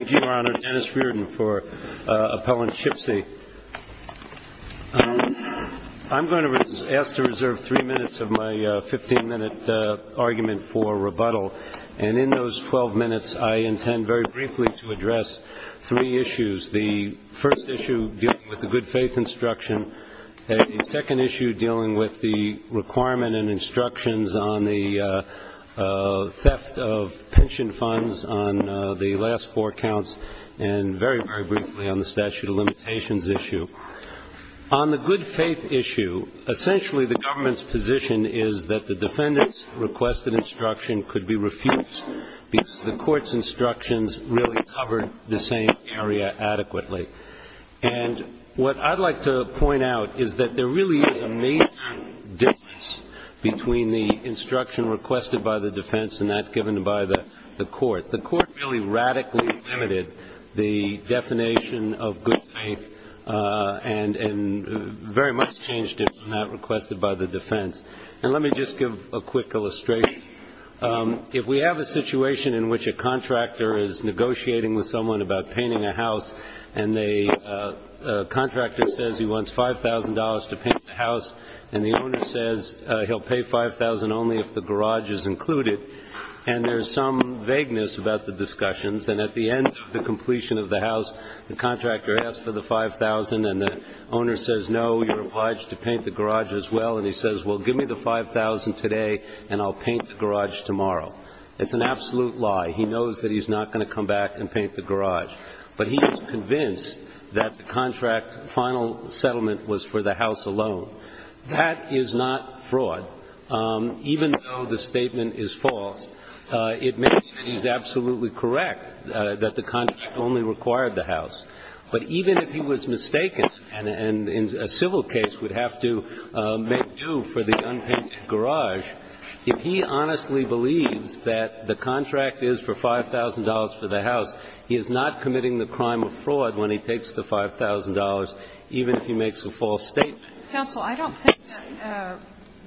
I'm going to ask to reserve three minutes of my 15-minute argument for rebuttal. And in those 12 minutes, I intend very briefly to address three issues. The first issue, dealing with the good faith instruction. The second issue, dealing with the requirement and instructions on the theft of pension funds on the last four counties. And the third issue, dealing with the requirement and instructions on the theft of pension funds on the last four counties. And very, very briefly on the statute of limitations issue. On the good faith issue, essentially the government's position is that the defendant's requested instruction could be refused because the court's instructions really covered the same area adequately. And what I'd like to point out is that there really is a major difference between the instruction requested by the defense and that given by the court. The court really radically limited the definition of good faith and very much changed it from that requested by the defense. And let me just give a quick illustration. If we have a situation in which a contractor is negotiating with someone about painting a house, and the contractor says he wants $5,000 to paint the house, and the owner says he'll pay $5,000 only if the garage is included, and there's some vagueness about the discussions, and at the end of the completion of the house, the contractor asks for the $5,000, and the owner says, no, you're obliged to paint the garage as well. And he says, well, give me the $5,000 today, and I'll paint the garage tomorrow. It's an absolute lie. He knows that he's not going to come back and paint the garage. But he is convinced that the contract final settlement was for the house alone. That is not fraud. Even though the statement is false, it makes it absolutely correct that the contract only required the house. But even if he was mistaken and a civil case would have to make due for the unpainted garage, if he honestly believes that the contract is for $5,000 for the house, he is not committing the crime of fraud when he takes the $5,000, even if he makes a false statement. Sotomayor, counsel, I don't think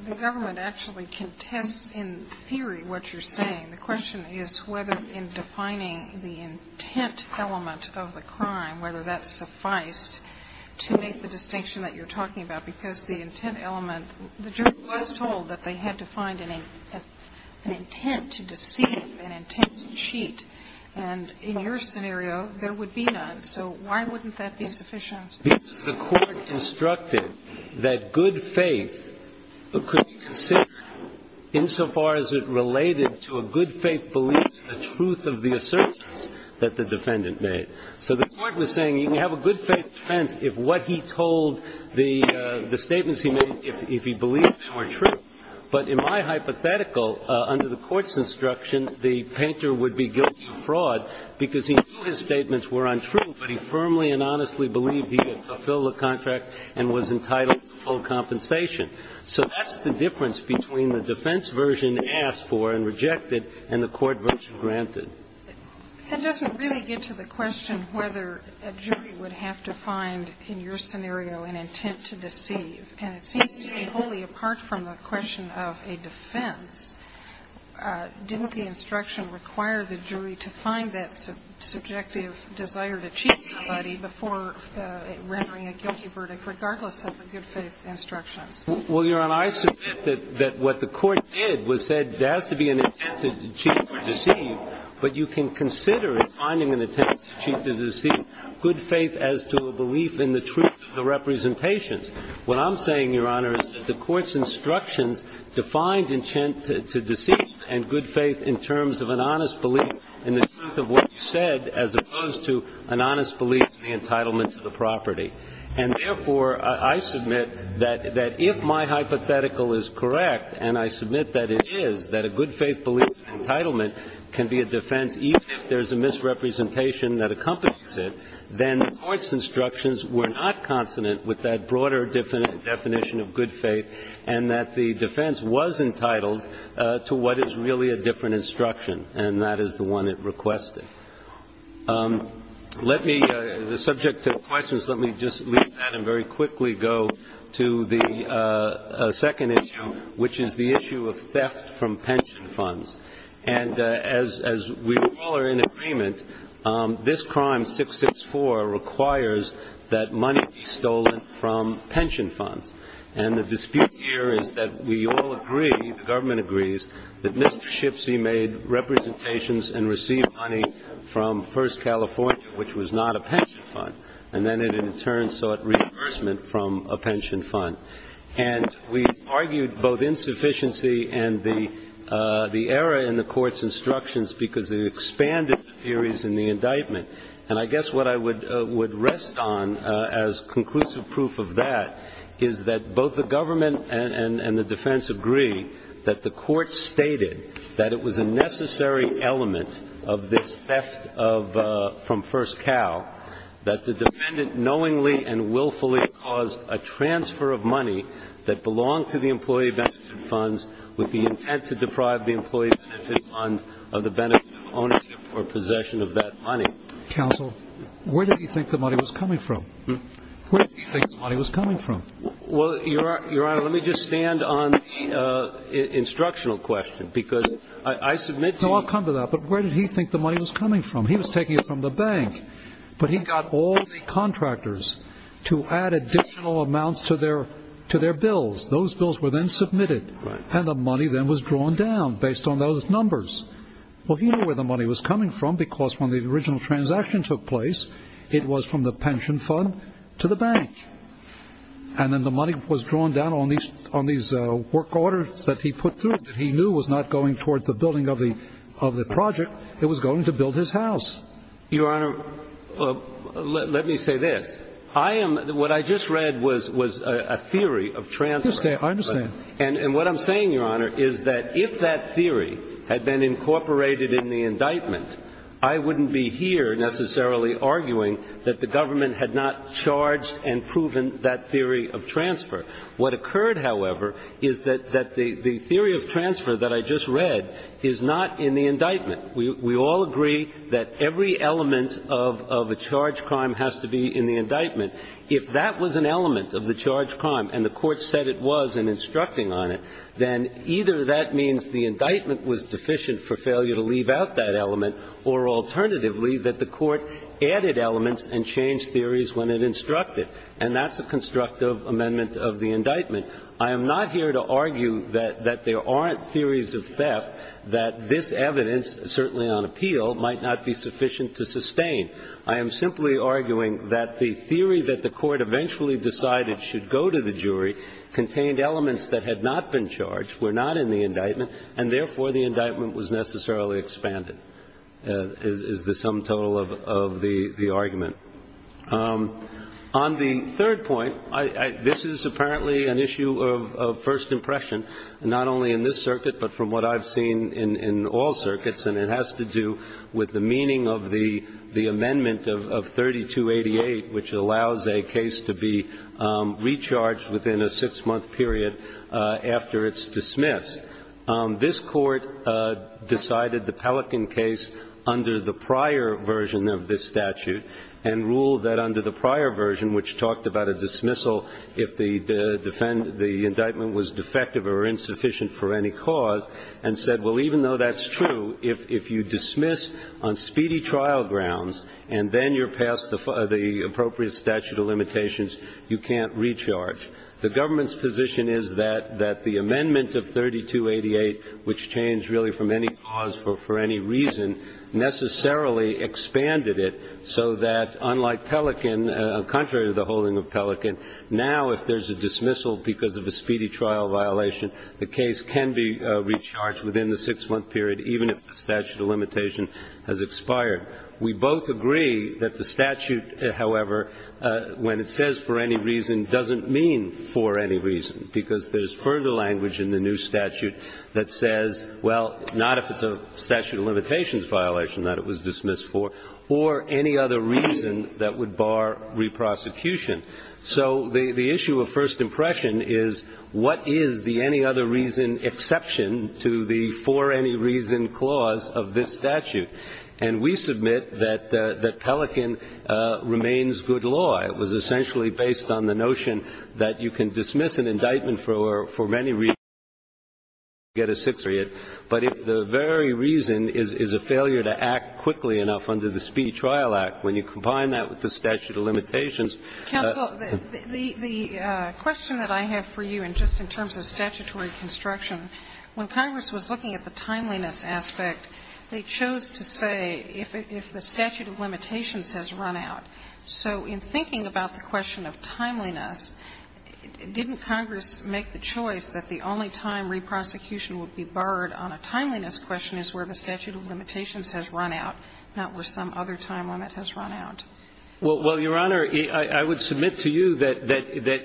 the government actually contests in theory what you're saying. The question is whether in defining the intent element of the crime, whether that sufficed to make the distinction that you're talking about. Because the intent element, the jury was told that they had to find an intent to deceive, an intent to cheat. And in your scenario, there would be none. So why wouldn't that be sufficient? Because the court instructed that good faith could be considered insofar as it related to a good faith belief in the truth of the assertions that the defendant made. So the court was saying you can have a good faith defense if what he told, the statements he made, if he believed them were true. But in my hypothetical, under the court's instruction, the painter would be guilty of fraud because he knew his statements were untrue, but he firmly and honestly believed he had fulfilled the contract and was entitled to full compensation. So that's the difference between the defense version asked for and rejected and the court version granted. And does it really get to the question whether a jury would have to find, in your scenario, an intent to deceive? And it seems to me wholly apart from the question of a defense, didn't the instruction require the jury to find that subjective desire to cheat somebody before rendering a guilty verdict, regardless of the good faith instructions? Well, Your Honor, I submit that what the court did was said there has to be an intent to cheat or deceive. But you can consider finding an intent to cheat or deceive good faith as to a belief in the truth of the representations. What I'm saying, Your Honor, is that the court's instructions defined intent to deceive and good faith in terms of an honest belief in the truth of what you said, as opposed to an honest belief in the entitlement to the property. And therefore, I submit that if my hypothetical is correct, and I submit that it is, that a good faith belief in entitlement can be a defense even if there's a misrepresentation that accompanies it, then the court's instructions were not consonant with that broader definition of good faith and that the defense was entitled to what is really a different instruction, and that is the one it requested. The subject of questions, let me just leave that and very quickly go to the second issue, which is the issue of theft from pension funds. And as we all are in agreement, this crime, 664, requires that money be stolen from pension funds. And the dispute here is that we all agree, the government agrees, that Mr. Shipsey made representations and received money from First California, which was not a pension fund. And then it in turn sought reimbursement from a pension fund. And we argued both insufficiency and the error in the court's instructions because it expanded the theories in the indictment. And I guess what I would rest on as conclusive proof of that is that both the government and the defense agree that the court stated that it was a necessary element of this theft from First Cal, that the defendant knowingly and willfully caused a transfer of money that belonged to the employee benefit funds with the intent to deprive the employee benefit fund of the benefit of ownership or possession of that money. Counsel, where did he think the money was coming from? Where did he think the money was coming from? Well, Your Honor, let me just stand on the instructional question because I submit to you... No, I'll come to that. But where did he think the money was coming from? He was taking it from the bank, but he got all the contractors to add additional amounts to their bills. Those bills were then submitted, and the money then was drawn down based on those numbers. Well, he knew where the money was coming from because when the original transaction took place, it was from the pension fund to the bank, and then the money was drawn down on these work orders that he put through that he knew was not going towards the building of the project. It was going to build his house. Your Honor, let me say this. What I just read was a theory of transfer. I understand. And what I'm saying, Your Honor, is that if that theory had been incorporated in the indictment, I wouldn't be here necessarily arguing that the government had not charged and proven that theory of transfer. What occurred, however, is that the theory of transfer that I just read is not in the indictment. We all agree that every element of a charge crime has to be in the indictment. If that was an element of the charge crime, and the Court said it was in instructing on it, then either that means the indictment was deficient for failure to leave out that element, or alternatively, that the Court added elements and changed theories when it instructed. And that's a constructive amendment of the indictment. I am not here to argue that there aren't theories of theft that this evidence, certainly on appeal, might not be sufficient to sustain. I am simply arguing that the theory that the Court eventually decided should go to the jury contained elements that had not been charged, were not in the indictment, and therefore, the indictment was necessarily expanded, is the sum total of the argument. On the third point, this is apparently an issue of first impression, not only in this circuit, but from what I've seen in all circuits, and it has to do with the meaning of the amendment of 3288, which allows a case to be recharged within a six-month period after it's dismissed. This Court decided the Pelican case under the prior version of this statute, and ruled that under the prior version, which talked about a dismissal if the indictment was defective or insufficient for any cause, and said, well, even though that's true, if you dismiss on speedy trial grounds and then you're past the appropriate statute of limitations, you can't recharge. The government's position is that the amendment of 3288, which changed really from any cause for any reason, necessarily expanded it so that, unlike Pelican, contrary to the holding of Pelican, now if there's a dismissal because of a speedy trial violation, the case can be recharged within the six-month period, even if the statute of limitation has expired. We both agree that the statute, however, when it says for any reason, doesn't mean for any reason, because there's further language in the new statute that says, well, not if it's a statute of limitations violation that it was dismissed for, or any other reason that would bar reprosecution. So the issue of first impression is, what is the any-other-reason exception to the for-any-reason clause of this statute? And we submit that Pelican remains good law. It was essentially based on the notion that you can dismiss an indictment for many reasons, but you can't get a six or eight. But if the very reason is a failure to act quickly enough under the Speedy Trial Act, when you combine that with the statute of limitations. Sotomayor, the question that I have for you, and just in terms of statutory construction, when Congress was looking at the timeliness aspect, they chose to say if the statute of limitations has run out. So in thinking about the question of timeliness, didn't Congress make the choice that the only time reprosecution would be barred on a timeliness question is where the statute of limitations has run out, not where some other time limit has run out? Well, Your Honor, I would submit to you that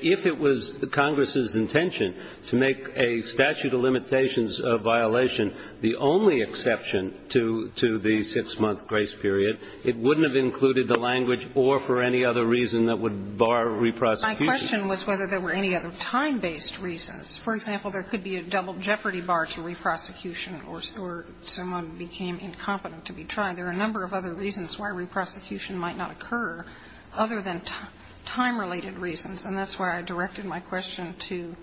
if it was Congress's intention to make a statute of limitations violation the only exception to the six-month grace period, it wouldn't have included the language, or for any other reason, that would bar reprosecution. My question was whether there were any other time-based reasons. For example, there could be a double jeopardy bar to reprosecution or someone became incompetent to be tried. There are a number of other reasons why reprosecution might not occur other than time-related reasons, and that's why I directed my question to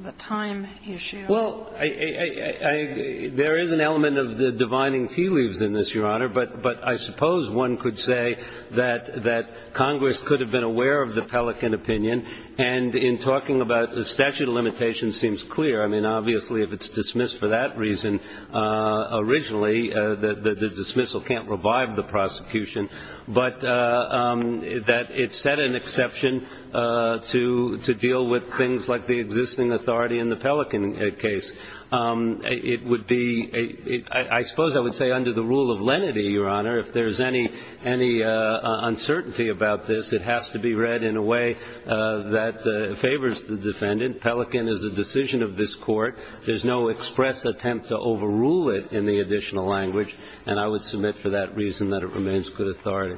the time issue. Well, there is an element of the divining tea leaves in this, Your Honor, but I suppose one could say that Congress could have been aware of the Pelican opinion, and in talking about the statute of limitations seems clear. I mean, obviously, if it's dismissed for that reason originally, the dismissal can't revive the prosecution, but that it set an exception to deal with things like the existing authority in the Pelican case. It would be a – I suppose I would say under the rule of lenity, Your Honor, if there's any uncertainty about this, it has to be read in a way that favors the defendant. Pelican is a decision of this Court. There's no express attempt to overrule it in the additional language, and I would submit for that reason that it remains good authority.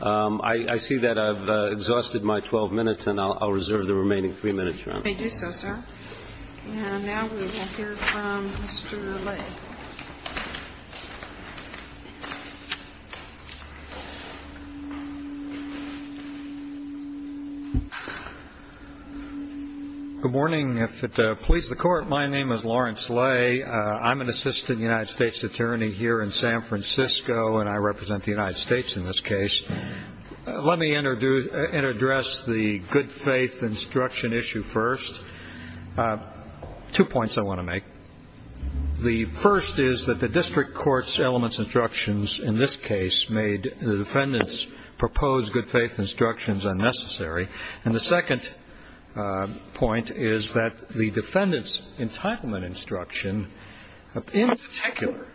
I see that I've exhausted my 12 minutes, and I'll reserve the remaining three minutes, May do so, sir. And now we will hear from Mr. Lay. Good morning. If it pleases the Court, my name is Lawrence Lay. I'm an assistant United States attorney here in San Francisco, and I represent the United States in this case. Let me address the good-faith instruction issue first. Two points I want to make. The first is that the district court's elements instructions in this case made the defendant's proposed good-faith instructions unnecessary. And the second point is that the defendant's entitlement instruction, in particular,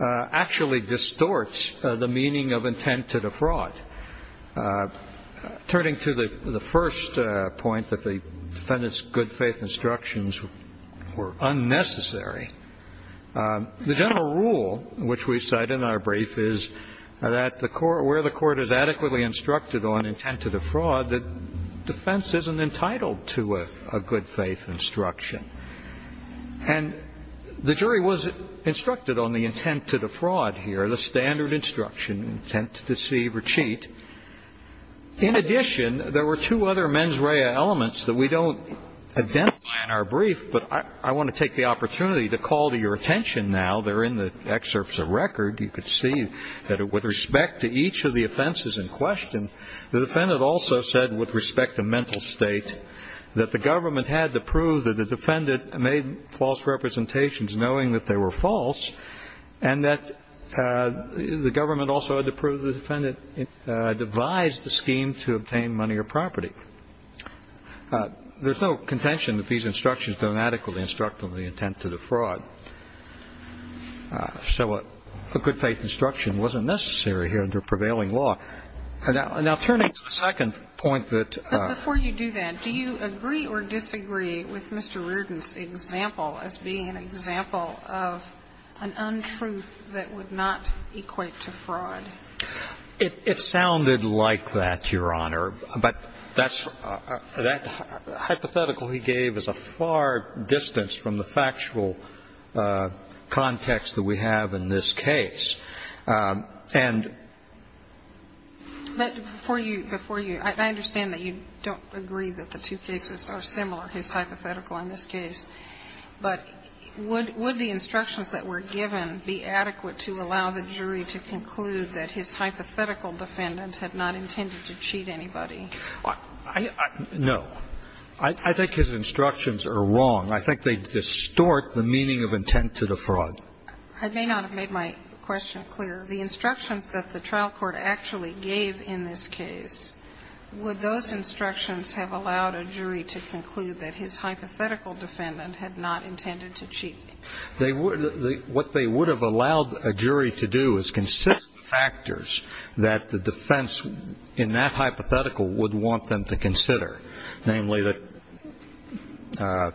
actually distorts the meaning of intent to defraud. Turning to the first point that the defendant's good-faith instructions were unnecessary, the general rule, which we cite in our brief, is that where the court is adequately instructed on intent to defraud, the defense isn't entitled to a good-faith instruction. And the jury was instructed on the intent to defraud here, the standard instruction, intent to deceive or cheat. In addition, there were two other mens rea elements that we don't identify in our brief, but I want to take the opportunity to call to your attention now. They're in the excerpts of record. You can see that with respect to each of the offenses in question, the defendant also said with respect to mental state, that the government had to prove that the defendant made false representations knowing that they were false, and that the government also had to prove the defendant devised a scheme to obtain money or property. There's no contention that these instructions don't adequately instruct on the intent to defraud. So a good-faith instruction wasn't necessary here under prevailing law. Now, turning to the second point that ---- Do you agree or disagree with Mr. Reardon's example as being an example of an untruth that would not equate to fraud? It sounded like that, Your Honor, but that's ---- that hypothetical he gave is a far distance from the factual context that we have in this case. And ---- But before you ---- before you ---- I understand that you don't agree that the two cases are similar, his hypothetical in this case. But would the instructions that were given be adequate to allow the jury to conclude that his hypothetical defendant had not intended to cheat anybody? I ---- no. I think his instructions are wrong. I think they distort the meaning of intent to defraud. I may not have made my question clear. The instructions that the trial court actually gave in this case, would those instructions have allowed a jury to conclude that his hypothetical defendant had not intended to cheat? They would ---- what they would have allowed a jury to do is consider the factors that the defense in that hypothetical would want them to consider, namely the ----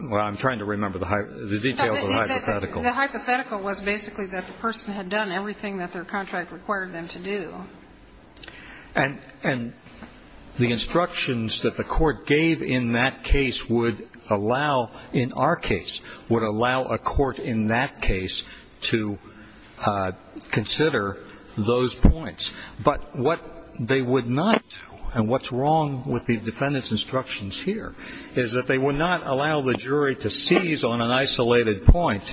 well, I'm trying to remember the details of the hypothetical. The hypothetical was basically that the person had done everything that their contract required them to do. And the instructions that the court gave in that case would allow, in our case, would allow a court in that case to consider those points. But what they would not do, and what's wrong with the defendant's instructions here, is that they would not allow the jury to seize on an isolated point,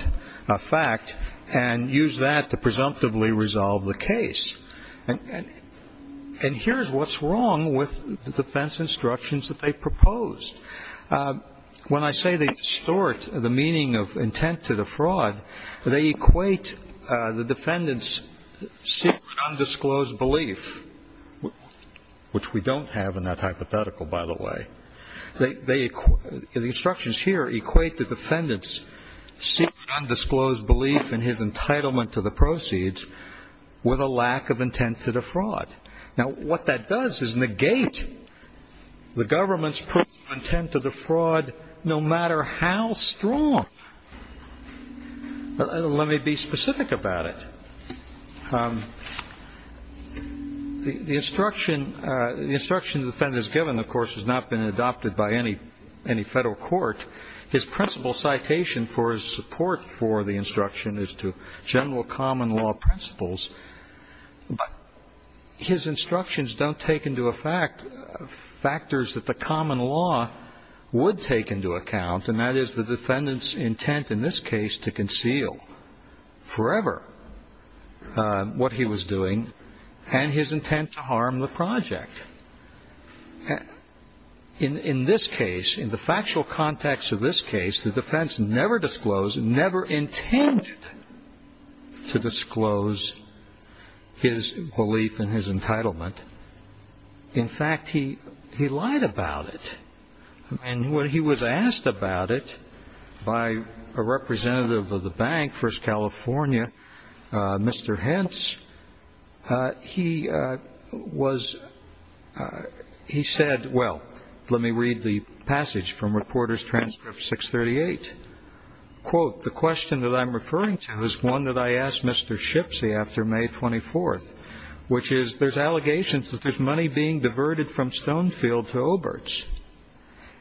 a fact, and use that to presumptively resolve the case. And here's what's wrong with the defense instructions that they proposed. When I say they distort the meaning of intent to defraud, they equate the defendant's secret undisclosed belief, which we don't have in that hypothetical, by the way, the instructions here equate the defendant's secret undisclosed belief in his entitlement to the proceeds with a lack of intent to defraud. Now, what that does is negate the government's proof of intent to defraud, no matter how strong. Let me be specific about it. The instruction the defendant is given, of course, has not been adopted by any Federal court. His principal citation for his support for the instruction is to general common law principles. But his instructions don't take into effect factors that the common law would take into account, and that is the defendant's intent in this case to conceal forever. What he was doing and his intent to harm the project. In this case, in the factual context of this case, the defense never disclosed, never intended to disclose his belief in his entitlement. In fact, he lied about it. And when he was asked about it by a representative of the bank, First California, Mr. Hentz, he said, well, let me read the passage from Reporters' Transcript 638. Quote, the question that I'm referring to is one that I asked Mr. Shipsy after May 24th, which is there's allegations that there's money being diverted from Stonefield to Obert's.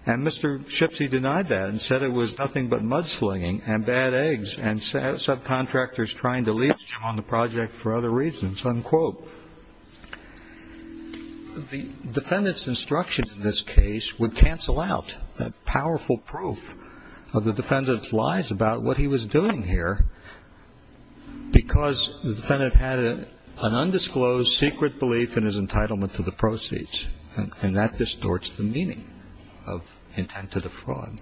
And Mr. Shipsy denied that and said it was nothing but mudslinging and bad eggs and subcontractors trying to leech on the project for other reasons. Unquote. The defendant's instruction in this case would cancel out that powerful proof of the defendant's lies about what he was doing here because the defendant had an undisclosed secret belief in his entitlement to the proceeds. And that distorts the meaning of intent to defraud.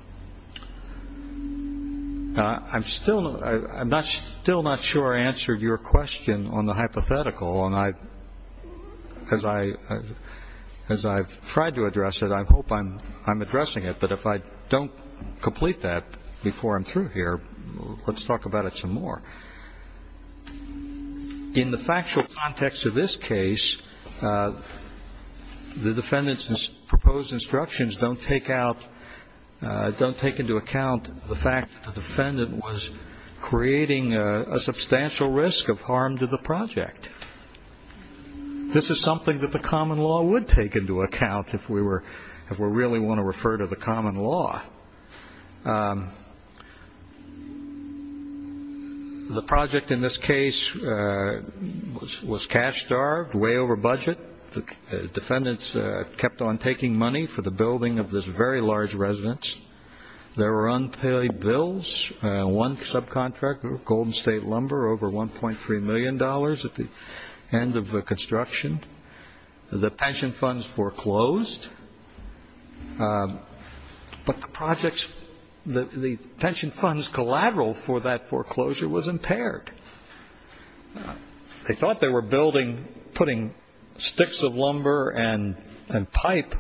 I'm still not sure I answered your question on the hypothetical. And as I've tried to address it, I hope I'm addressing it. But if I don't complete that before I'm through here, let's talk about it some more. In the factual context of this case, the defendant's proposed instructions don't take out, don't take into account the fact that the defendant was creating a substantial risk of harm to the project. This is something that the common law would take into account if we really want to refer to the common law. The project in this case was cash-starved, way over budget. The defendants kept on taking money for the building of this very large residence. There were unpaid bills. One subcontractor, Golden State Lumber, over $1.3 million at the end of the construction. The pension funds foreclosed. But the pension funds collateral for that foreclosure was impaired. They thought they were building, putting sticks of lumber and pipe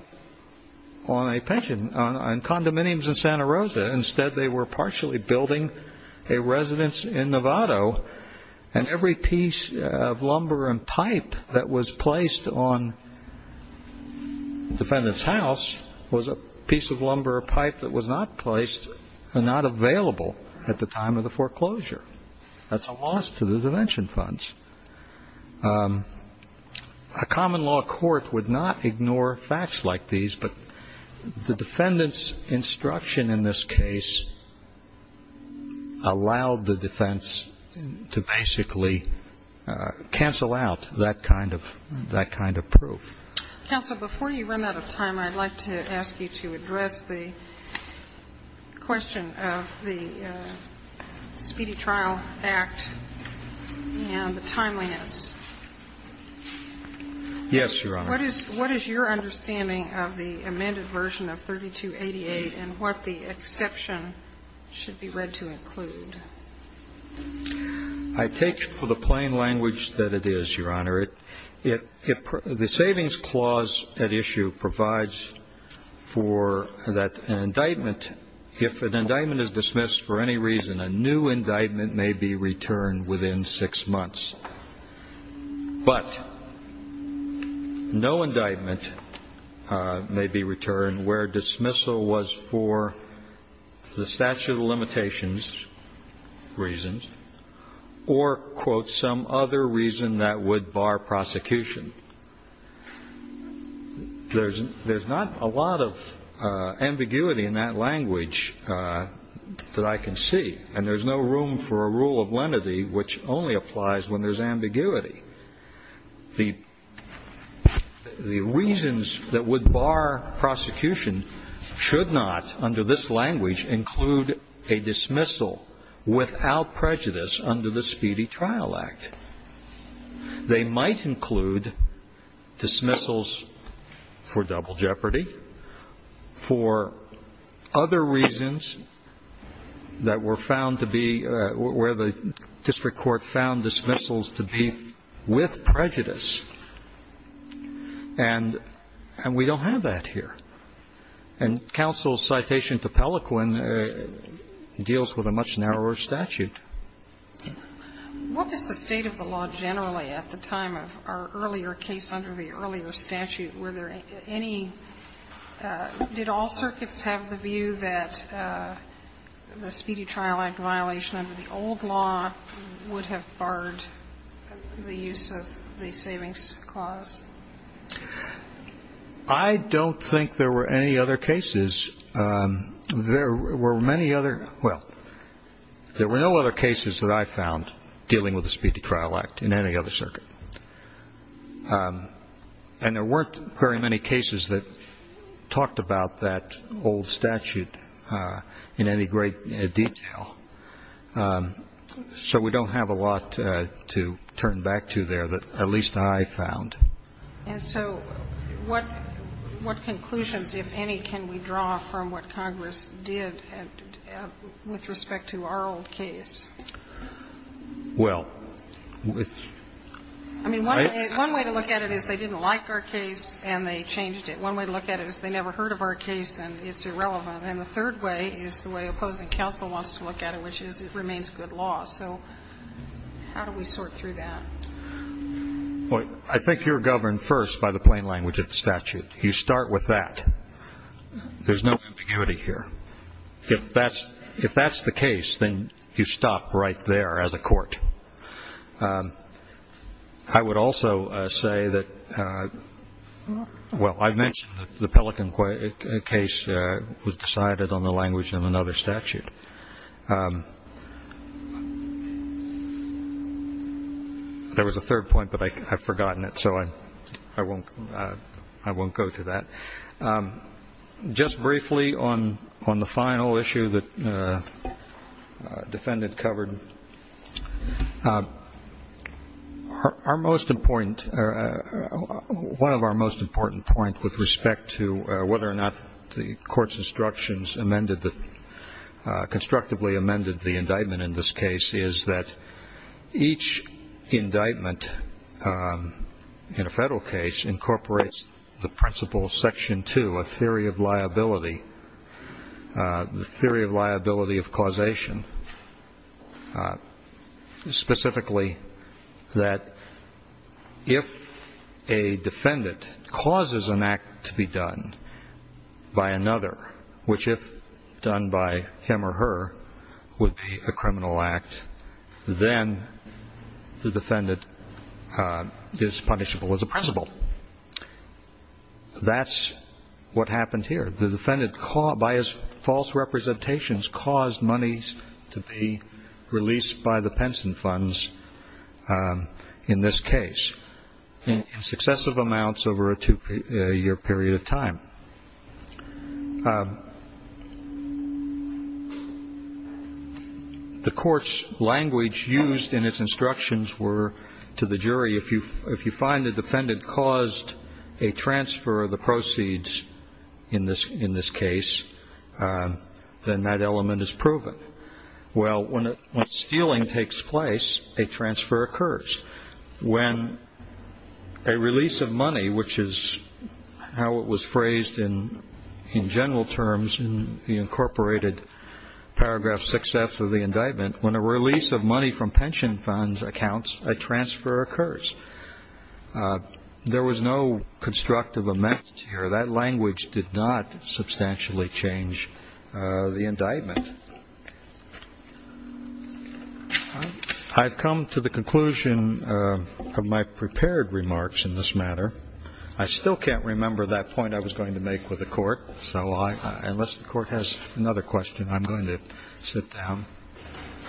on a pension, on condominiums in Santa Rosa. Instead, they were partially building a residence in Novato. And every piece of lumber and pipe that was placed on the defendant's house was a piece of lumber or pipe that was not placed and not available at the time of the foreclosure. That's a loss to the pension funds. A common law court would not ignore facts like these, but the defendant's instruction in this case allowed the defense to basically cancel out that kind of proof. Counsel, before you run out of time, I'd like to ask you to address the question of the Speedy Trial Act and the timeliness. Yes, Your Honor. What is your understanding of the amended version of 3288 and what the exception should be read to include? I take it for the plain language that it is, Your Honor. The savings clause at issue provides for that indictment. If an indictment is dismissed for any reason, a new indictment may be returned within six months. But no indictment may be returned where dismissal was for the statute of limitations reasons or, quote, some other reason that would bar prosecution. There's not a lot of ambiguity in that language that I can see, and there's no room for a rule of lenity, which only applies when there's ambiguity. The reasons that would bar prosecution should not, under this language, include a dismissal without prejudice under the Speedy Trial Act. They might include dismissals for double jeopardy, for other reasons that were found to be, where the district court found dismissals to be with prejudice. And we don't have that here. And counsel's citation to Pelequin deals with a much narrower statute. What was the state of the law generally at the time of our earlier case under the earlier statute? Were there any ñ did all circuits have the view that the Speedy Trial Act violation under the old law would have barred the use of the savings clause? I don't think there were any other cases. There were many other ñ well, there were no other cases that I found dealing with the Speedy Trial Act in any other circuit. And there weren't very many cases that talked about that old statute in any great detail. So we don't have a lot to turn back to there that at least I found. And so what conclusions, if any, can we draw from what Congress did with respect to our old case? Well, with ñ I mean, one way to look at it is they didn't like our case and they changed it. One way to look at it is they never heard of our case and it's irrelevant. And the third way is the way opposing counsel wants to look at it, which is it remains good law. So how do we sort through that? Well, I think you're governed first by the plain language of the statute. You start with that. There's no ambiguity here. If that's the case, then you stop right there as a court. I would also say that ñ well, I mentioned the Pelican case was decided on the language of another statute. There was a third point, but I've forgotten it, so I won't go to that. Just briefly on the final issue that the defendant covered, our most important ñ one of our most important points with respect to whether or not the court's instructions amended the ñ constructively amended the indictment in this case is that each indictment in a federal case incorporates the principle of Section 2, a theory of liability, the theory of liability of causation, specifically that if a defendant causes an act to be done by another, which if done by him or her would be a criminal act, then the defendant is punishable as a principle. That's what happened here. The defendant, by his false representations, caused monies to be released by the pension funds in this case in successive amounts over a two-year period of time. The court's language used in its instructions were to the jury, if you find the defendant caused a transfer of the proceeds in this case, then that element is proven. Well, when stealing takes place, a transfer occurs. When a release of money, which is how it was phrased in general terms in the incorporated paragraph 6F of the indictment, when a release of money from pension funds accounts, a transfer occurs. There was no constructive amendment here. That language did not substantially change the indictment. I've come to the conclusion of my prepared remarks in this matter. I still can't remember that point I was going to make with the Court, so unless the Court has another question, I'm going to sit down.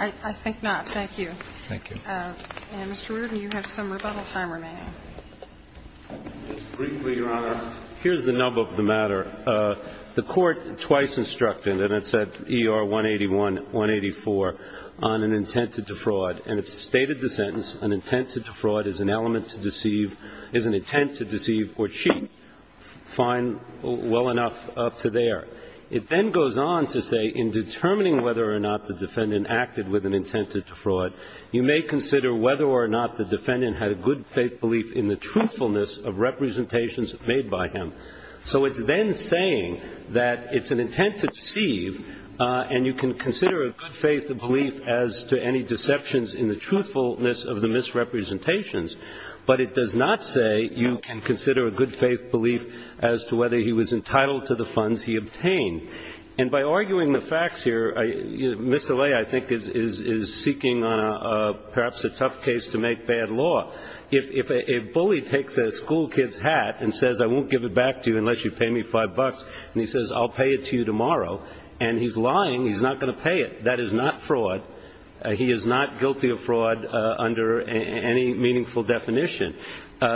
I think not. Thank you. Thank you. And, Mr. Reardon, you have some rebuttal time remaining. Briefly, Your Honor, here's the nub of the matter. The Court twice instructed, and it's at ER 181, 184, on an intent to defraud. And it stated the sentence, an intent to defraud is an element to deceive, is an intent to deceive or cheat. Fine, well enough up to there. It then goes on to say, in determining whether or not the defendant acted with an intent to defraud, you may consider whether or not the defendant had a good faith belief in the truthfulness of representations made by him. So it's then saying that it's an intent to deceive, and you can consider a good faith belief as to any deceptions in the truthfulness of the misrepresentations, but it does not say you can consider a good faith belief as to whether he was entitled to the funds he obtained. And by arguing the facts here, Mr. Lay, I think, is seeking on perhaps a tough case to make bad law. If a bully takes a school kid's hat and says, I won't give it back to you unless you pay me 5 bucks, and he says, I'll pay it to you tomorrow, and he's lying, he's not going to pay it. That is not fraud. He is not guilty of fraud under any meaningful definition.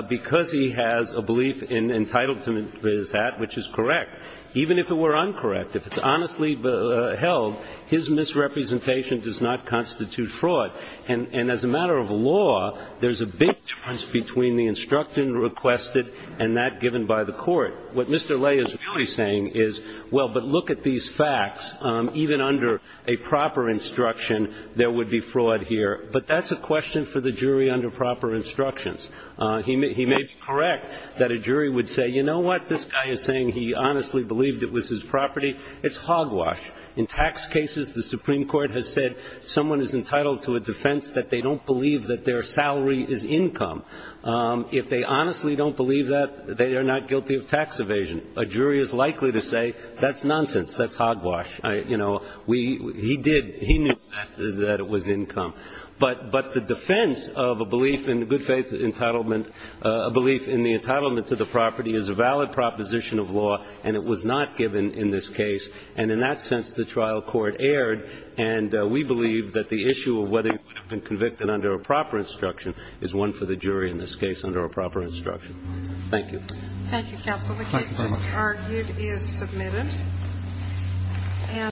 Because he has a belief entitled to his hat, which is correct, even if it were uncorrect, if it's honestly held, his misrepresentation does not constitute fraud. And as a matter of law, there's a big difference between the instructed and requested and that given by the court. What Mr. Lay is really saying is, well, but look at these facts. Even under a proper instruction, there would be fraud here. But that's a question for the jury under proper instructions. He may be correct that a jury would say, you know what, this guy is saying he honestly believed it was his property. It's hogwash. In tax cases, the Supreme Court has said someone is entitled to a defense that they don't believe that their salary is income. If they honestly don't believe that, they are not guilty of tax evasion. A jury is likely to say, that's nonsense, that's hogwash. You know, he did, he knew that it was income. But the defense of a belief in good faith entitlement, a belief in the entitlement to the property, is a valid proposition of law, and it was not given in this case. And in that sense, the trial court erred. And we believe that the issue of whether you would have been convicted under a proper instruction is one for the jury in this case under a proper instruction. Thank you. Thank you, counsel. The case just argued is submitted.